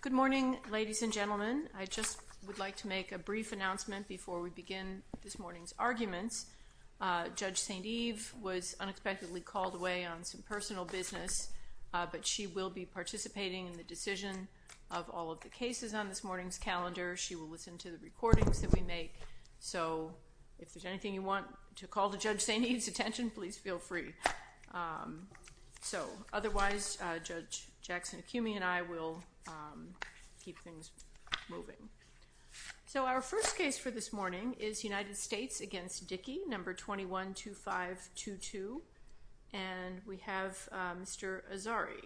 Good morning, ladies and gentlemen. I just would like to make a brief announcement before we begin this morning's arguments. Judge St. Eve was unexpectedly called away on some personal business, but she will be participating in the decision of all of the cases on this morning's calendar. She will listen to the recordings that we make, so if there's anything you want to call to Judge St. Eve's attention, please feel free. So otherwise, Judge Jackson-Akumi and I will keep things moving. So our first case for this morning is United States v. Dickey, number 212522, and we have Mr. Azari.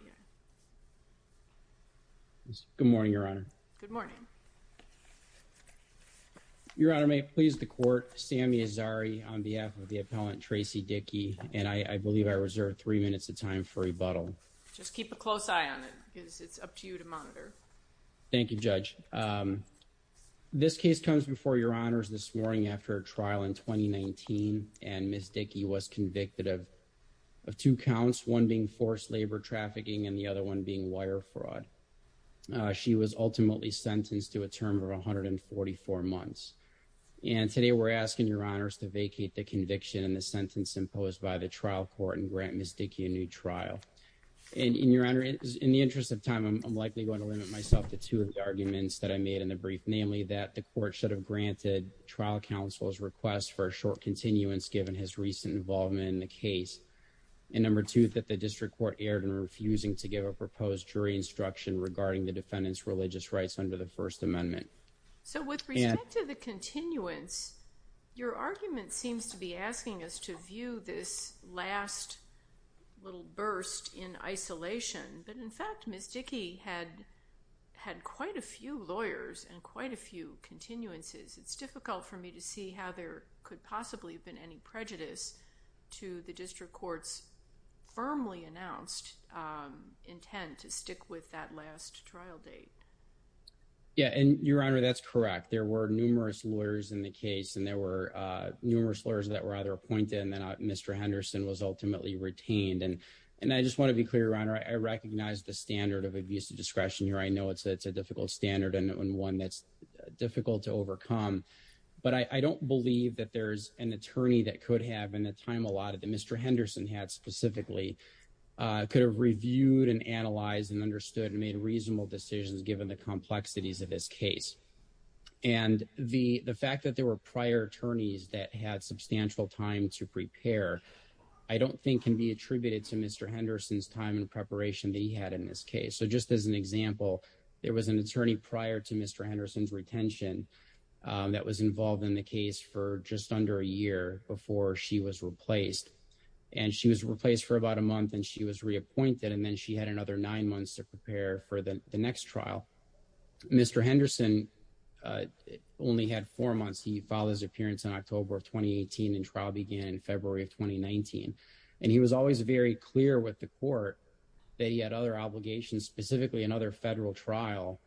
Good morning, Your Honor. Good morning. Your Honor, may it please the Court, Sammy Azari on behalf of the appellant Tracie Dickey, and I believe I reserve three minutes of time for rebuttal. Just keep a close eye on it because it's up to you to monitor. Thank you, Judge. This case comes before Your Honors this morning after a trial in 2019, and Ms. Dickey was convicted of two counts, one being forced labor trafficking and the other one being wire fraud. She was ultimately sentenced to a term of 144 months, and today we're asking Your Honors to vacate the conviction and the sentence imposed by the trial court and grant Ms. Dickey a new trial. And Your Honor, in the interest of time, I'm likely going to limit myself to two of the arguments that I made in the brief, namely that the court should have granted trial counsel's request for a short continuance given his recent involvement in the district court erred in refusing to give a proposed jury instruction regarding the defendant's religious rights under the First Amendment. So with respect to the continuance, your argument seems to be asking us to view this last little burst in isolation, but in fact Ms. Dickey had quite a few lawyers and quite a few continuances. It's difficult for me to see how there could possibly have been any prejudice to the district court's firmly announced intent to stick with that last trial date. Yeah, and Your Honor, that's correct. There were numerous lawyers in the case and there were numerous lawyers that were either appointed and then Mr. Henderson was ultimately retained. And I just want to be clear, Your Honor, I recognize the standard of abuse of discretion here. I know it's a difficult standard and one that's difficult to overcome, but I don't believe that there's an attorney that could have, in the time allotted that Mr. Henderson had specifically, could have reviewed and analyzed and understood and made reasonable decisions given the complexities of this case. And the fact that there were prior attorneys that had substantial time to prepare, I don't think can be attributed to Mr. Henderson's time and preparation that he had in this case. So just as an example, there was an attorney prior to Mr. Henderson's retention that was involved in the case for just under a year before she was replaced. And she was replaced for about a month and she was reappointed and then she had another nine months to prepare for the next trial. Mr. Henderson only had four months. He filed his appearance in October of 2018 and trial began in February of 2019. And he was always very clear with the court that he had other obligations, specifically another federal trial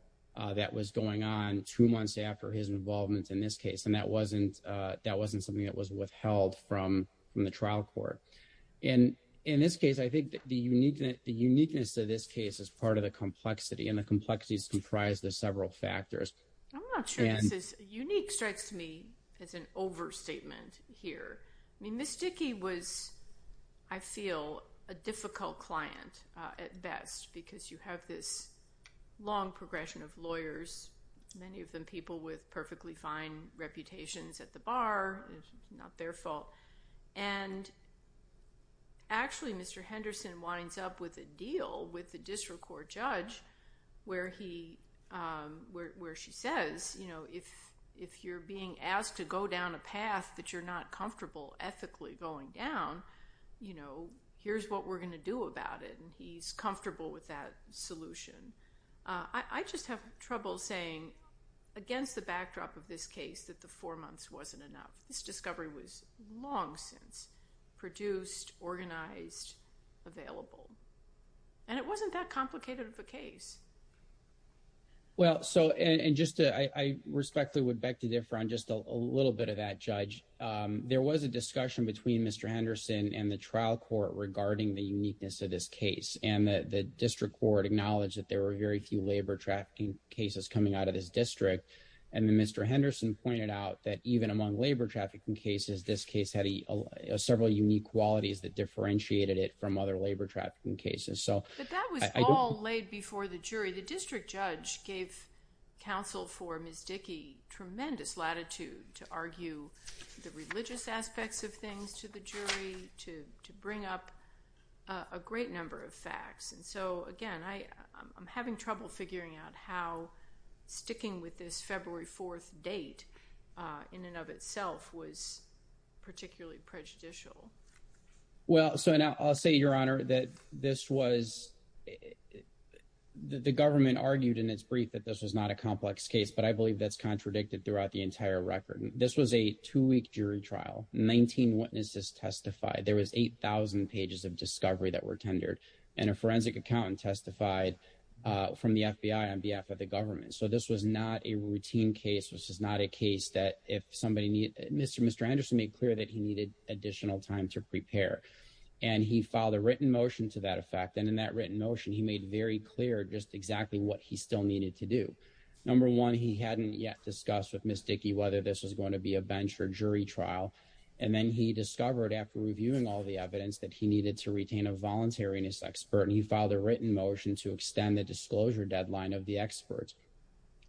that was going on two months after his involvement in this case. And that wasn't something that was withheld from the trial court. And in this case, I think the uniqueness of this case is part of the complexity and the complexities comprise the several factors. I'm not sure this is unique strikes me as an overstatement here. I mean, this long progression of lawyers, many of them people with perfectly fine reputations at the bar, not their fault. And actually, Mr. Henderson winds up with a deal with the district court judge where she says, if you're being asked to go down a path that you're not comfortable ethically going down, here's what we're going to do about it. And he's comfortable with that solution. I just have trouble saying against the backdrop of this case that the four months wasn't enough. This discovery was long since produced, organized, available. And it wasn't that complicated of a case. Well, so and just I respectfully would beg to differ on just a little bit of that judge. There was a discussion between Mr. Henderson and the trial court regarding the uniqueness of this case. And the district court acknowledged that there were very few labor trafficking cases coming out of this district. And Mr. Henderson pointed out that even among labor trafficking cases, this case had several unique qualities that differentiated it from other labor trafficking cases. But that was all laid before the jury. The district judge gave counsel for Ms. Dickey tremendous latitude to argue the religious aspects of things to the jury, to bring up a great number of facts. And so again, I'm having trouble figuring out how sticking with this February 4th date in and of itself was particularly prejudicial. Well, so now I'll say, Your Honor, that this was, the government argued in its brief that this was not a complex case. But I believe that's contradicted throughout the entire record. This was a two-week jury trial. 19 witnesses testified. There was 8,000 pages of discovery that were tendered. And a forensic accountant testified from the FBI on behalf of the government. So this was not a routine case, which is not a case that if somebody, Mr. Henderson made clear that he needed additional time to prepare. And he filed a written motion to that effect. And in that written motion, he made very clear just exactly what he still needed to do. Number one, he hadn't yet discussed with Ms. Dickey whether this was going to be a bench or jury trial. And then he discovered after reviewing all the evidence that he needed to retain a voluntariness expert. And he filed a written motion to extend the disclosure deadline of the experts.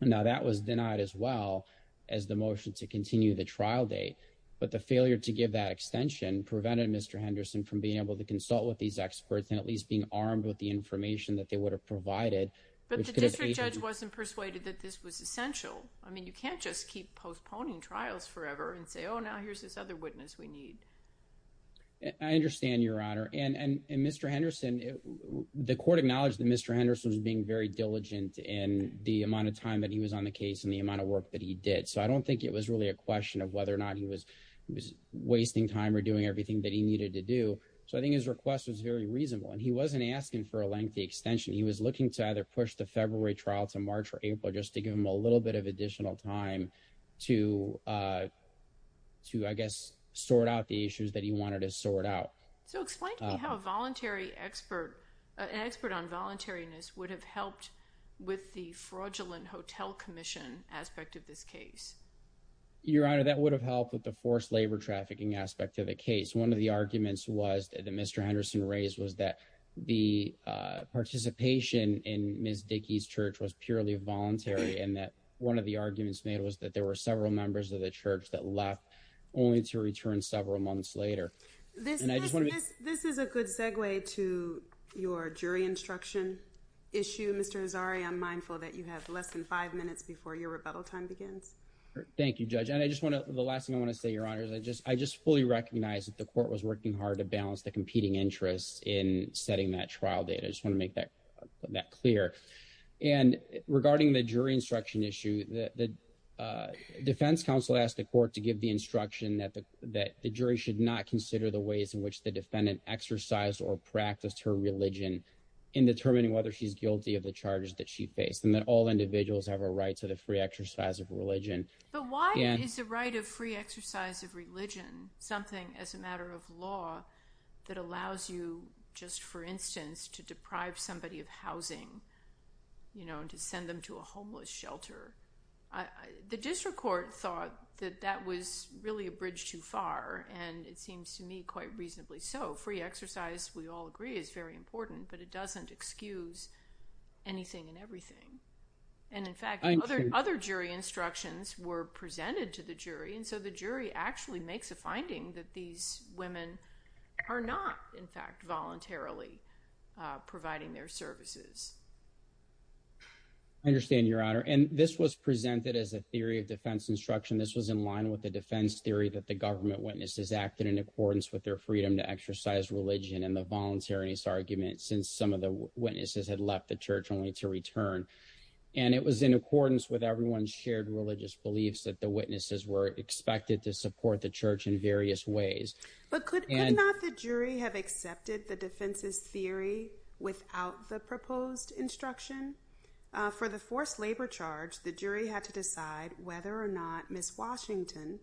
Now that was denied as well as the motion to continue the trial date. But the failure to give that extension prevented Mr. Henderson from being able to consult with these experts and at least being armed with the information that they would have provided. But the district judge wasn't persuaded that this was essential. I mean, you can't just keep postponing trials forever and say, oh, now here's this other witness we need. I understand, Your Honor. And Mr. Henderson, the court acknowledged that Mr. Henderson was being very diligent in the amount of time that he was on the case and the amount of work that he did. So I don't think it was really a question of whether or not he was wasting time or doing everything that he needed to do. So I think his request was very reasonable. And he wasn't asking for a lengthy extension. He was looking to either push the February trial to March or April just to give him a little bit of additional time to, I guess, sort out the issues that he wanted to sort out. So explain to me how a voluntary expert, an expert on voluntariness would have helped with the fraudulent hotel commission aspect of this case. Your Honor, that would have helped with the forced labor trafficking aspect of the case. One of the arguments was that Mr. Henderson raised was that the participation in Ms. Dickey's church was purely voluntary and that one of the arguments made was that there were several members of the church that left only to return several months later. This is a good segue to your jury instruction issue. Mr. Azari, I'm mindful that you have less than five minutes before your rebuttal time begins. Thank you, Judge. And I just want to, the last thing I want to say, Your Honor, is I just fully recognize that the court was working hard to balance the regarding the jury instruction issue. The defense counsel asked the court to give the instruction that the jury should not consider the ways in which the defendant exercised or practiced her religion in determining whether she's guilty of the charges that she faced and that all individuals have a right to the free exercise of religion. But why is the right of free exercise of religion something as a matter of law that allows you just, for instance, to deprive somebody of housing, you know, and to send them to a homeless shelter? The district court thought that that was really a bridge too far, and it seems to me quite reasonably so. Free exercise, we all agree, is very important, but it doesn't excuse anything and everything. And in fact, other jury instructions were presented to the jury, and so the jury actually makes a finding that these women are not, in fact, voluntarily providing their services. I understand, Your Honor, and this was presented as a theory of defense instruction. This was in line with the defense theory that the government witnesses acted in accordance with their freedom to exercise religion and the voluntariness argument since some of the witnesses had left the church only to return. And it was in accordance with everyone's shared religious beliefs that the witnesses were expected to support the church in various ways. But could not the jury have accepted the defense's theory without the proposed instruction? For the forced labor charge, the jury had to decide whether or not Ms. Washington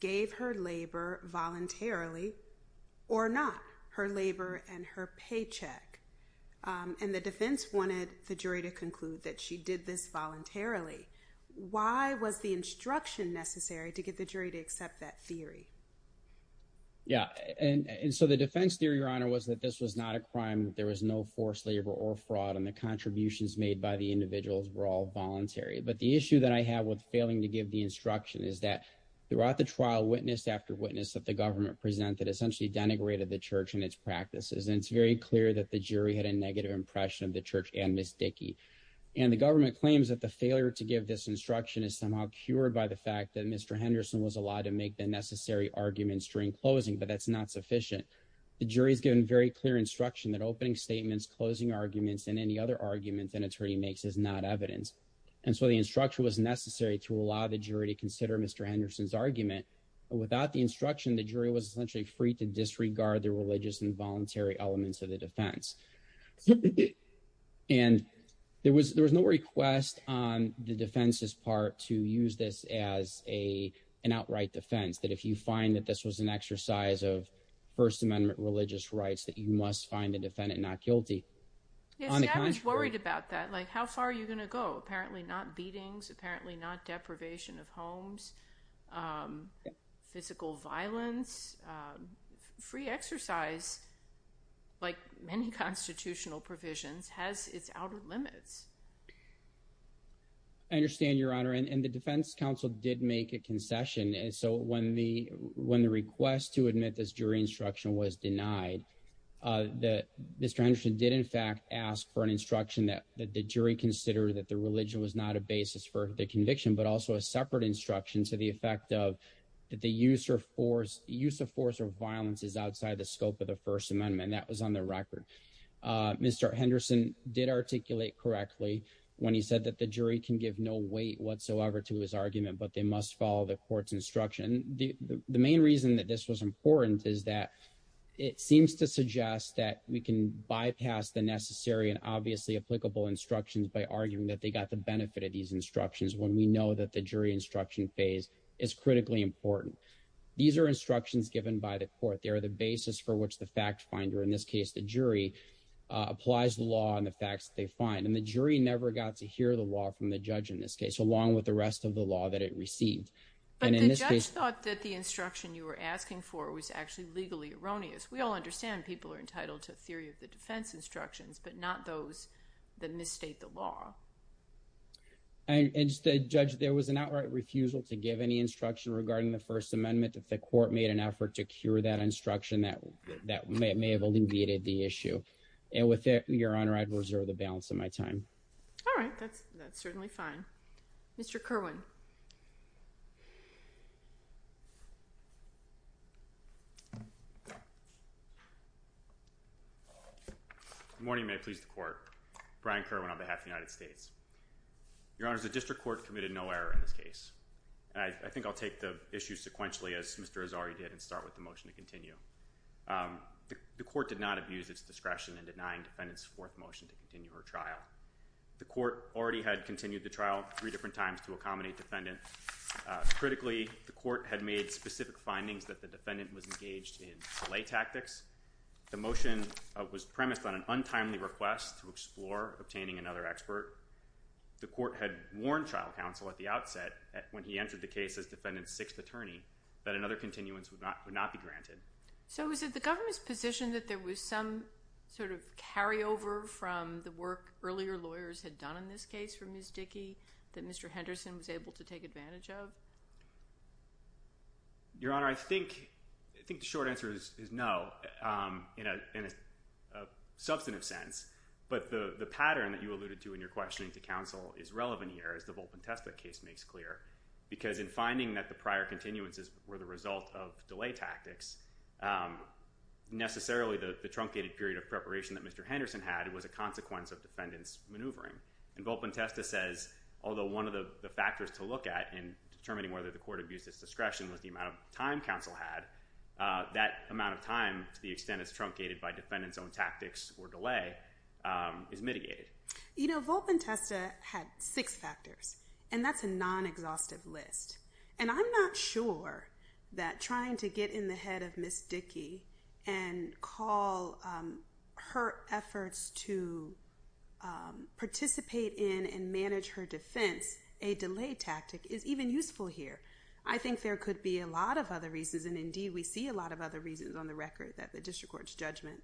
gave her labor voluntarily or not, her labor and her paycheck. And the defense wanted the jury to accept that theory. Yeah, and so the defense theory, Your Honor, was that this was not a crime. There was no forced labor or fraud, and the contributions made by the individuals were all voluntary. But the issue that I have with failing to give the instruction is that throughout the trial, witness after witness that the government presented essentially denigrated the church and its practices. And it's very clear that the jury had a negative impression of the church and Ms. Dickey. And the government claims that the failure to give this instruction is cured by the fact that Mr. Henderson was allowed to make the necessary arguments during closing, but that's not sufficient. The jury has given very clear instruction that opening statements, closing arguments, and any other arguments an attorney makes is not evidence. And so the instruction was necessary to allow the jury to consider Mr. Henderson's argument. Without the instruction, the jury was essentially free to disregard the religious and voluntary elements of the defense. And there was no request on the defense's part to use this as an outright defense, that if you find that this was an exercise of First Amendment religious rights, that you must find the defendant not guilty. Yeah, see, I was worried about that. Like, how far are you going to go? Apparently not beatings, apparently not deprivation of homes, physical violence, free exercise, like many constitutional provisions, has its outer limits. I understand, Your Honor. And the defense counsel did make a concession. And so when the request to admit this jury instruction was denied, Mr. Henderson did, in fact, ask for an instruction that the jury consider that the religion was not a basis for the conviction, but also a separate instruction to the effect of that the use of force or violence is outside the scope of the First Amendment. That was on the record. Mr. Henderson did articulate correctly when he said that the jury can give no weight whatsoever to his argument, but they must follow the court's instruction. The main reason that this was important is that it seems to suggest that we can bypass the necessary and obviously applicable instructions by arguing that they got the benefit of these instructions when we know that the jury instruction phase is critically important. These are instructions given by the court. They are the basis for which the fact finder, in this case, the jury, applies the law and the facts they find. And the jury never got to hear the law from the judge in this case, along with the rest of the law that it received. But the judge thought that the instruction you were asking for was actually legally erroneous. We all understand people are And instead, Judge, there was an outright refusal to give any instruction regarding the First Amendment that the court made an effort to cure that instruction that that may have alleviated the issue. And with it, Your Honor, I'd reserve the balance of my time. All right, that's that's certainly fine. Mr. Kerwin. Good morning. May it please the court. Brian Kerwin on behalf of the District Court committed no error in this case. I think I'll take the issue sequentially as Mr. Azari did and start with the motion to continue. The court did not abuse its discretion in denying defendants fourth motion to continue her trial. The court already had continued the trial three different times to accommodate defendant. Critically, the court had made specific findings that the defendant was engaged in delay tactics. The motion was premised on an request to explore obtaining another expert. The court had warned trial counsel at the outset when he entered the case as defendant's sixth attorney that another continuance would not be granted. So is it the government's position that there was some sort of carryover from the work earlier lawyers had done in this case for Ms. Dickey that Mr. Henderson was able to take But the pattern that you alluded to in your questioning to counsel is relevant here, as the Volpontesta case makes clear, because in finding that the prior continuances were the result of delay tactics, necessarily the truncated period of preparation that Mr. Henderson had was a consequence of defendants maneuvering. And Volpontesta says, although one of the factors to look at in determining whether the court abused its discretion was the amount of time counsel had, that amount of time to the extent it's truncated by defendant's own tactics or delay is mitigated. You know, Volpontesta had six factors, and that's a non-exhaustive list. And I'm not sure that trying to get in the head of Ms. Dickey and call her efforts to participate in and manage her defense a delay tactic is even useful here. I think there could be a lot of other reasons, and indeed we see a lot of other reasons on the record that the district court's judgment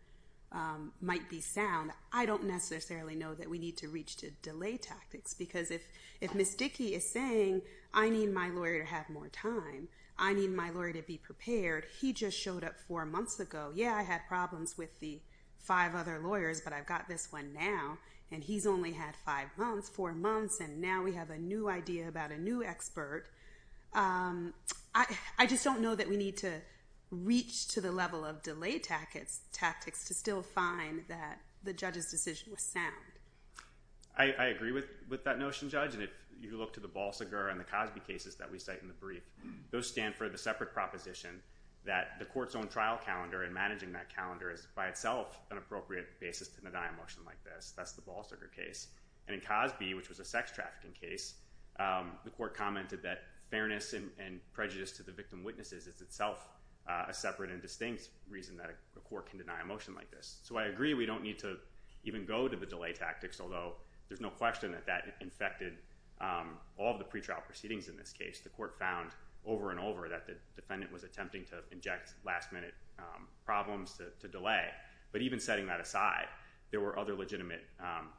might be sound. I don't necessarily know that we need to reach to delay tactics, because if Ms. Dickey is saying, I need my lawyer to have more time, I need my lawyer to be prepared, he just showed up four months ago, yeah, I had problems with the five other lawyers, but I've got this one now, and he's only had five months, four months, and now we have a new idea about a new expert. I just don't know that we need to reach to the level of delay tactics to still find that the judge's decision was sound. I agree with that notion, Judge, and if you look to the Balsiger and the Cosby cases that we cite in the brief, those stand for the separate proposition that the court's own trial calendar and managing that calendar is by itself an appropriate basis to deny a motion like this. That's the Balsiger case. And in Cosby, which was a sex trafficking case, the court commented that fairness and prejudice to the victim witnesses is itself a separate and distinct reason that a court can deny a motion like this. So I agree, we don't need to even go to the delay tactics, although there's no question that that infected all of the pretrial proceedings in this case. The court found over and over that the defendant was attempting to inject last-minute problems to delay, but even setting that aside, there were other legitimate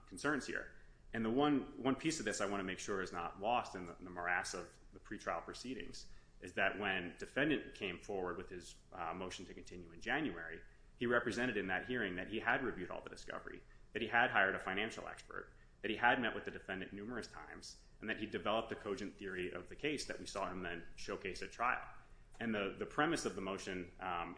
concerns here. And the one piece of this I want to make sure is not lost in the morass of the pretrial proceedings is that when defendant came forward with his motion to continue in January, he represented in that hearing that he had reviewed all the discovery, that he had hired a financial expert, that he had met with the defendant numerous times, and that he developed the cogent theory of the case that we saw him then showcase at trial. And the premise of the motion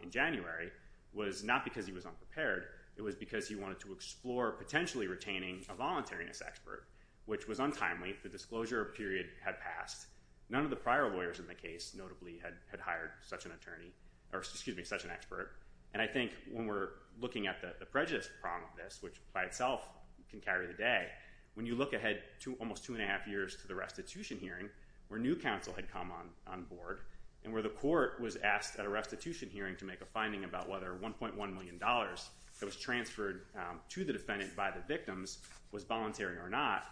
in January was not because he was unprepared, it was because he wanted to explore potentially retaining a voluntariness expert, which was untimely. The disclosure period had passed. None of the prior lawyers in the case notably had hired such an attorney, or excuse me, such an expert. And I think when we're looking at the prejudice prong of this, which by itself can carry the day, when you look ahead to almost two and a half years to the restitution hearing, where new counsel had come on board, and where the court was asked at a restitution hearing to make a finding about whether $1.1 million that was transferred to the defendant by the victims was voluntary or not,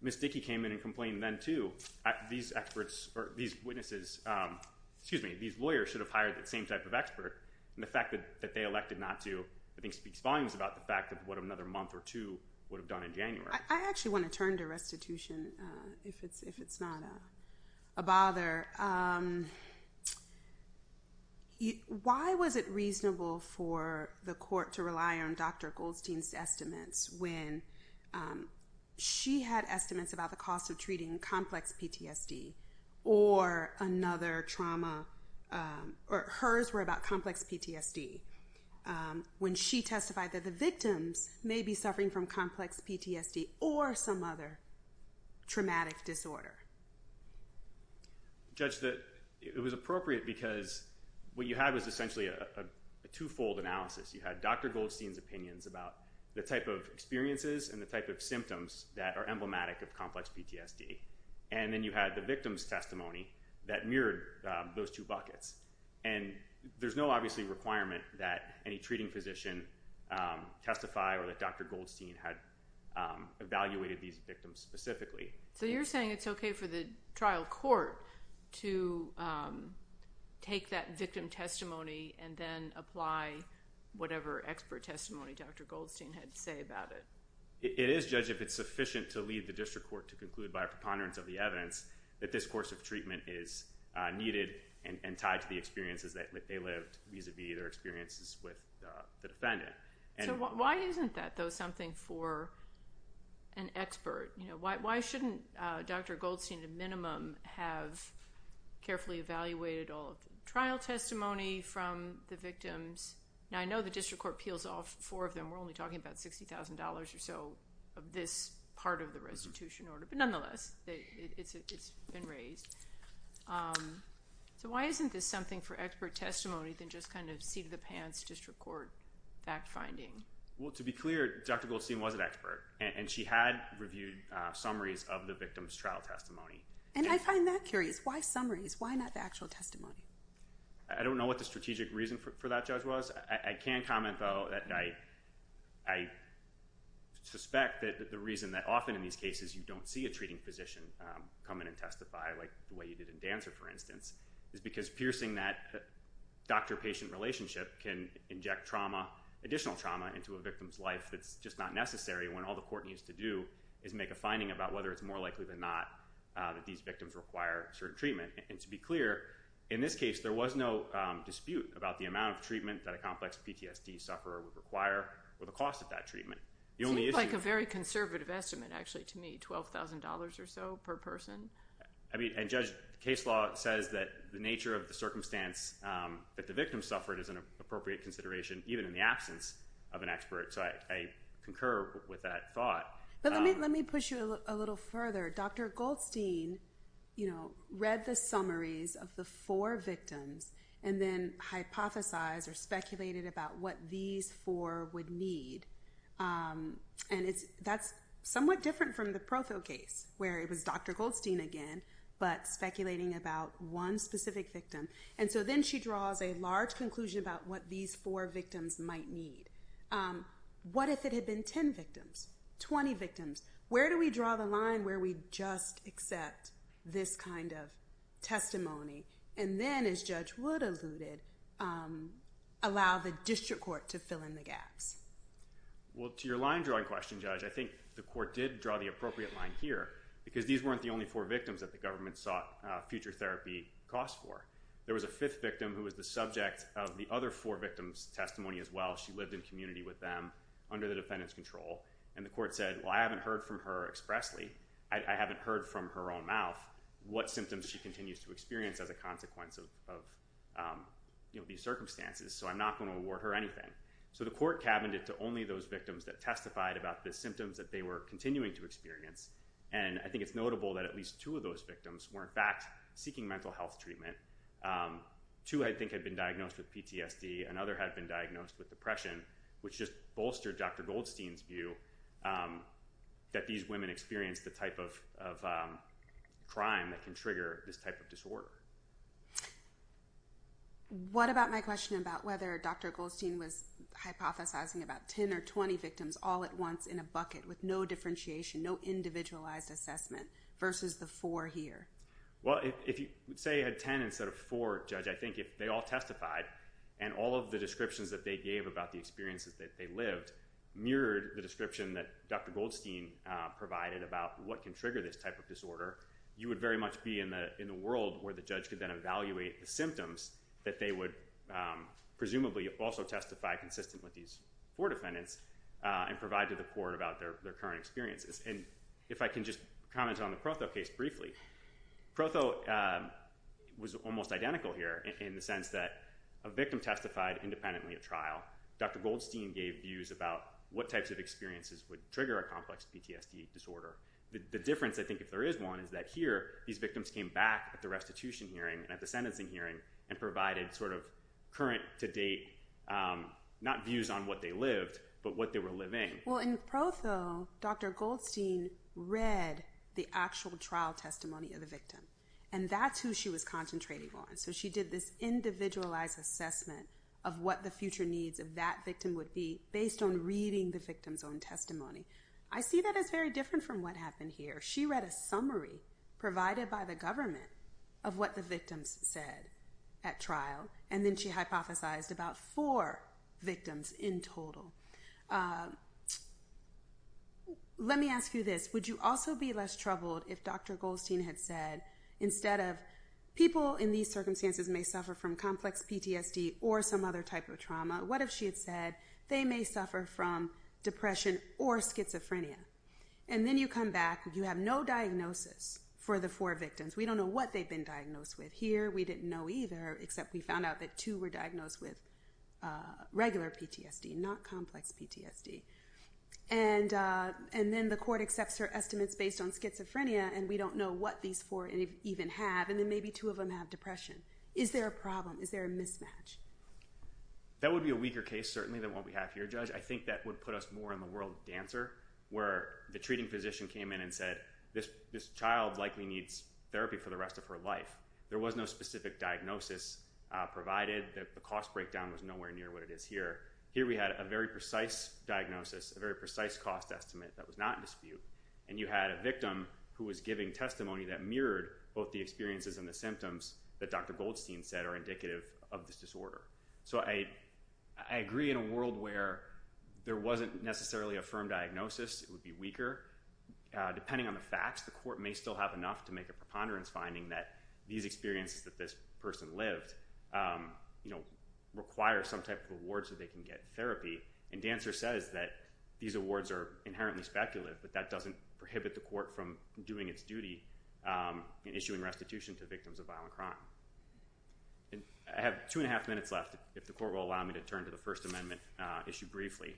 Ms. Dickey came in and complained then too, these lawyers should have hired that same type of expert. And the fact that they elected not to, I think speaks volumes about the fact of what another month or two would have done in January. I actually want to turn to a bother. Why was it reasonable for the court to rely on Dr. Goldstein's estimates when she had estimates about the cost of treating complex PTSD or another trauma, or hers were about complex PTSD, when she testified that the victims may be suffering from complex PTSD or some other traumatic disorder? Judge, it was appropriate because what you had was essentially a twofold analysis. You had Dr. Goldstein's opinions about the type of experiences and the type of symptoms that are emblematic of complex PTSD. And then you had the victim's testimony that mirrored those two buckets. And there's no obviously requirement that any treating had evaluated these victims specifically. So you're saying it's okay for the trial court to take that victim testimony and then apply whatever expert testimony Dr. Goldstein had to say about it? It is, Judge, if it's sufficient to lead the district court to conclude by a preponderance of the evidence that this course of treatment is needed and tied to the experiences that they lived vis-a-vis their experiences with the defendant. So why isn't that, though, something for an expert? Why shouldn't Dr. Goldstein, at a minimum, have carefully evaluated all of the trial testimony from the victims? Now, I know the district court peels off four of them. We're only talking about $60,000 or so of this part of the restitution order. But nonetheless, it's been released. So why isn't this something for expert testimony than just kind of seat of the pants, district court fact-finding? Well, to be clear, Dr. Goldstein was an expert. And she had reviewed summaries of the victim's trial testimony. And I find that curious. Why summaries? Why not the actual testimony? I don't know what the strategic reason for that, Judge, was. I can comment, though, that I suspect that the reason that often in these cases you don't see a treating physician come in and testify like the way you did in Dancer, for instance, is because piercing that doctor-patient relationship can inject trauma, additional trauma, into a victim's life that's just not necessary when all the court needs to do is make a finding about whether it's more likely than not that these victims require certain treatment. And to be clear, in this case, there was no dispute about the amount of treatment that a complex PTSD sufferer would require or the cost of that treatment. It seems like a very conservative estimate, actually, to me, $12,000 or so per person. I mean, and Judge, case law says that the nature of the circumstance that the victim suffered is an appropriate consideration, even in the absence of an expert. So I concur with that thought. But let me push you a little further. Dr. Goldstein read the summaries of the four victims and then hypothesized or speculated about what these four would need. And that's somewhat different from the Provo case, where it was Dr. Goldstein again, but speculating about one specific victim. And so then she draws a large conclusion about what these four victims might need. What if it had been 10 victims, 20 victims? Where do we draw the line where we just accept this kind of testimony? And then, as Judge Wood alluded, allow the district court to fill in the gaps? Well, to your line drawing question, Judge, I think the court did draw the appropriate line here, because these weren't the only four victims that the government sought future therapy costs for. There was a fifth victim who was the subject of the other four victims' testimony as well. She lived in community with them under the defendant's control. And the court said, well, I haven't heard from her expressly. I haven't heard from her own what symptoms she continues to experience as a consequence of these circumstances. So I'm not going to award her anything. So the court cabined it to only those victims that testified about the symptoms that they were continuing to experience. And I think it's notable that at least two of those victims were, in fact, seeking mental health treatment. Two, I think, had been diagnosed with PTSD. Another had been diagnosed with depression, which just bolstered Dr. Goldstein's view that these women experienced the type of crime that can trigger this type of disorder. What about my question about whether Dr. Goldstein was hypothesizing about 10 or 20 victims all at once in a bucket with no differentiation, no individualized assessment, versus the four here? Well, if you say had 10 instead of four, Judge, I think if they all testified and all of the descriptions that they gave about the experiences that they lived mirrored the description that Dr. Goldstein provided about what can trigger this type of disorder, you would very much be in the world where the judge could then evaluate the symptoms that they would presumably also testify consistent with these four defendants and provide to the court about their current experiences. And if I can just comment on the Protho case briefly. Protho was almost identical here in the sense that a victim testified independently at trial. Dr. Goldstein gave views about what types of experiences would trigger a complex PTSD disorder. The difference, I think, if there is one is that here, these victims came back at the restitution hearing and at the sentencing hearing and provided sort of current to date, not views on what they lived, but what they were living. Well, in Protho, Dr. Goldstein read the actual trial testimony of the victim, and that's who she was concentrating on. So she did this individualized assessment of what the future needs of that victim would be based on reading the victim's own testimony. I see that as very different from what happened here. She read a summary provided by the government of what the victims said at trial, and then she hypothesized about four victims in total. Let me ask you this. Would you also be less troubled if Dr. Goldstein had said, instead of people in these circumstances may suffer from complex PTSD or some other type of trauma, what if she had said they may suffer from depression or schizophrenia? And then you come back, you have no diagnosis for the four victims. We don't know what they've been diagnosed with here. We didn't know either, except we found out that two were diagnosed with regular PTSD, not complex PTSD. And then the court accepts her estimates based on schizophrenia, and we don't know what these four even have, and then maybe two of them have depression. Is there a problem? Is there a mismatch? That would be a weaker case, certainly, than what we have here, Judge. I think that would put us more in the world dancer, where the treating physician came in and said, this child likely needs therapy for the rest of her life. There was no specific diagnosis provided that the cost breakdown was nowhere near what it is here. Here we had a very precise diagnosis, a very precise cost estimate that was not in dispute, and you had a victim who was giving testimony that mirrored both the experiences and the symptoms that Dr. Goldstein said are indicative of this disorder. So I agree in a world where there wasn't necessarily a firm diagnosis, it would be weaker. Depending on the facts, the court may still have enough to make a preponderance finding that these experiences that this person lived require some type of award so they can get therapy. And dancer says that these awards are inherently speculative, but that doesn't prohibit the court from doing its duty in issuing restitution to victims of violent crime. I have two and a half minutes left, if the court will allow me to turn to the First Amendment issue briefly.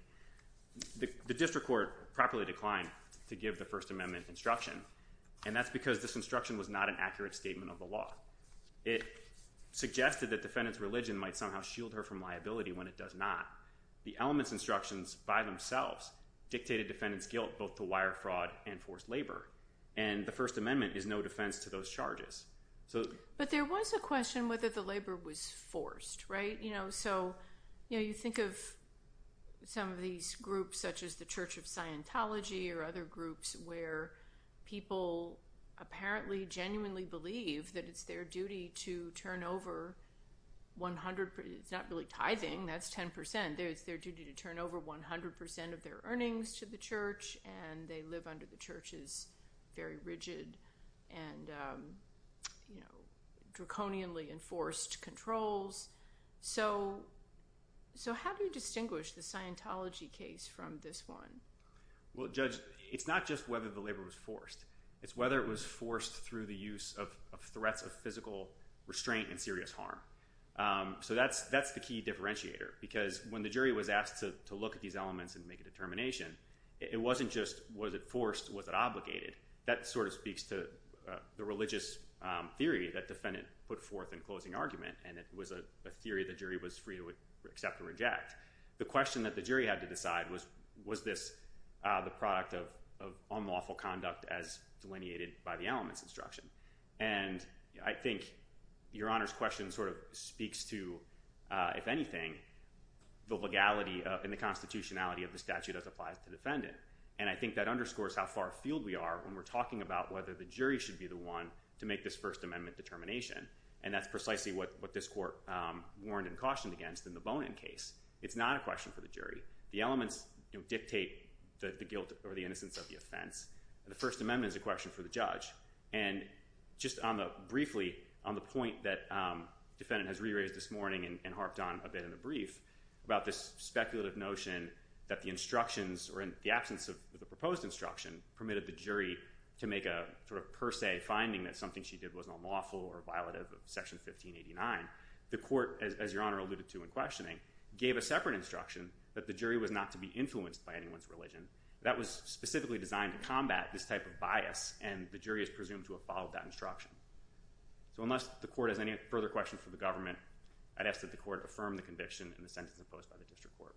The district court properly declined to give the First Amendment instruction, and that's because this instruction was not an accurate statement of the law. It suggested that defendant's religion might somehow shield her from liability when it does not. The elements instructions by themselves dictated defendant's guilt both to wire fraud and forced labor. And the First Amendment is no defense to those charges. But there was a question whether the labor was forced, right? So you think of some of these groups such as the Church of Scientology or other groups where people apparently genuinely believe that it's their duty to turn over 100 percent, it's not really tithing, that's 10 percent, it's their duty to turn over 100 percent of their earnings to the church, and they live under the church's very rigid and draconianly enforced controls. So how do you distinguish the Scientology case from this one? Well, Judge, it's not just whether the labor was forced. It's whether it was forced through the use of threats of physical restraint and serious harm. So that's the key differentiator. Because when the jury was asked to look at these elements and make a determination, it wasn't just was it forced, was it obligated? That sort of speaks to the religious theory that defendant put forth in closing argument, and it was a theory the jury was free to accept or reject. The question that the jury had to decide was, was this the product of unlawful conduct as delineated by the elements instruction? And I think Your Honor's question sort of speaks to, if anything, the legality and the constitutionality of the statute that applies to defendant. And I think that underscores how far afield we are when we're talking about whether the jury should be the one to make this First Amendment determination. And that's precisely what this court warned and cautioned against in the Bonin case. It's not a question for the jury. The elements dictate the guilt or the innocence of the offense. The First Amendment is a question for the judge. And just briefly on the point that defendant has re-raised this morning and harped on a bit in the brief about this speculative notion that the instructions or in the absence of the proposed instruction permitted the jury to make a sort of per se finding that something she did was unlawful or violative of Section 1589, the court, as Your Honor alluded to in questioning, gave a separate instruction that the jury was not to be influenced by anyone's religion. That was specifically designed to combat this type of bias. And the jury is presumed to have followed that instruction. So unless the court has any further questions for the government, I'd ask that the court affirm the conviction and the sentence imposed by the district court.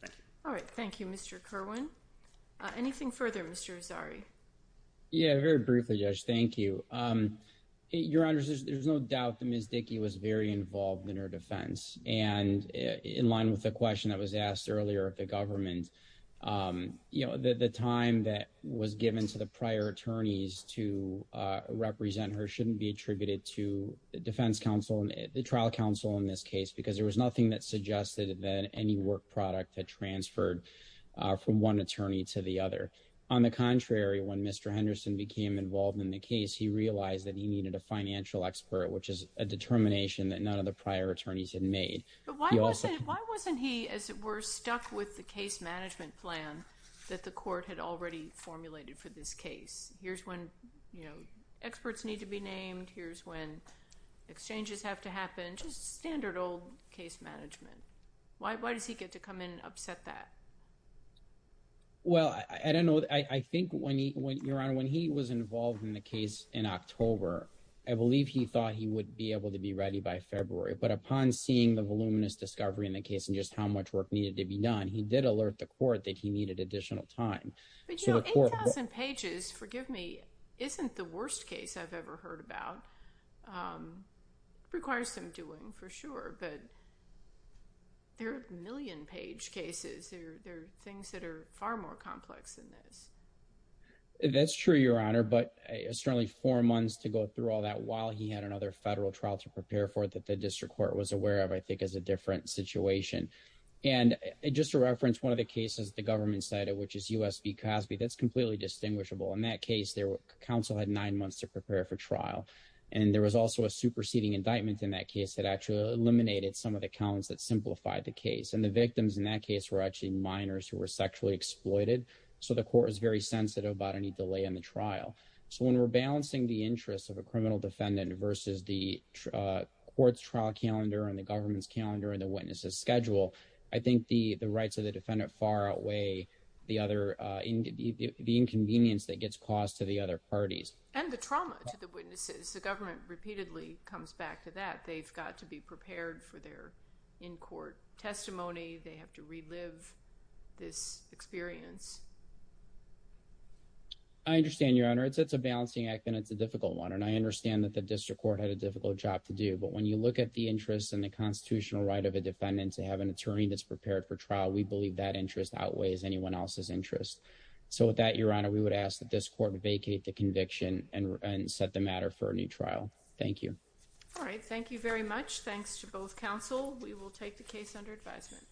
Thank you. All right. Thank you, Mr. Kerwin. Anything further, Mr. Azari? Yeah, very briefly, Judge. Thank you. Your Honor, there's no doubt that Ms. Dickey was very involved in her defense. And in line with the question that was asked earlier of the government, you know, the time that was given to the prior attorneys to represent her shouldn't be attributed to the defense counsel and the trial counsel in this case, because there was nothing that suggested that any work product had transferred from one attorney to the other. On the contrary, when Mr. Henderson became involved in the case, he realized that he needed a financial expert, which is a determination that none of the prior attorneys had made. But why wasn't he, as it were, stuck with the case management plan that the court had already formulated for this case? Here's when, you know, experts need to be named. Here's when exchanges have to happen. Just standard old case management. Why does he get to come in and upset that? Well, I don't know. I think when he, Your Honor, when he was involved in the case in October, I believe he thought he would be able to be ready by February. But upon seeing the voluminous discovery in the case and just how much work needed to be done, he did alert the court that he needed additional time. But, you know, 8,000 pages, forgive me, isn't the worst case I've ever heard about. It requires some doing, for sure. But there are a million page cases. There are things that are far more complex than this. That's true, Your Honor. But it's certainly four months to go through all that while he had another federal trial to prepare for that the district court was aware of, I think, is a different situation. And just to reference one of the cases the government cited, which is U.S. v. Cosby, that's completely distinguishable. In that case, counsel had nine months to prepare for trial. And there was also a superseding indictment in that case that actually eliminated some of the counts that simplified the case. And the victims in that case were actually minors who were sexually exploited. So the court was sensitive about any delay in the trial. So when we're balancing the interests of a criminal defendant versus the court's trial calendar and the government's calendar and the witness's schedule, I think the rights of the defendant far outweigh the inconvenience that gets caused to the other parties. And the trauma to the witnesses. The government repeatedly comes back to that. They've got to be prepared for their in-court testimony. They have to relive this experience. I understand, Your Honor. It's a balancing act and it's a difficult one. And I understand that the district court had a difficult job to do. But when you look at the interests and the constitutional right of a defendant to have an attorney that's prepared for trial, we believe that interest outweighs anyone else's interest. So with that, Your Honor, we would ask that this court vacate the conviction and set the matter for a new trial. Thank you. All right. Thank you very much. Thanks to both counsel. We will take the case under advisement.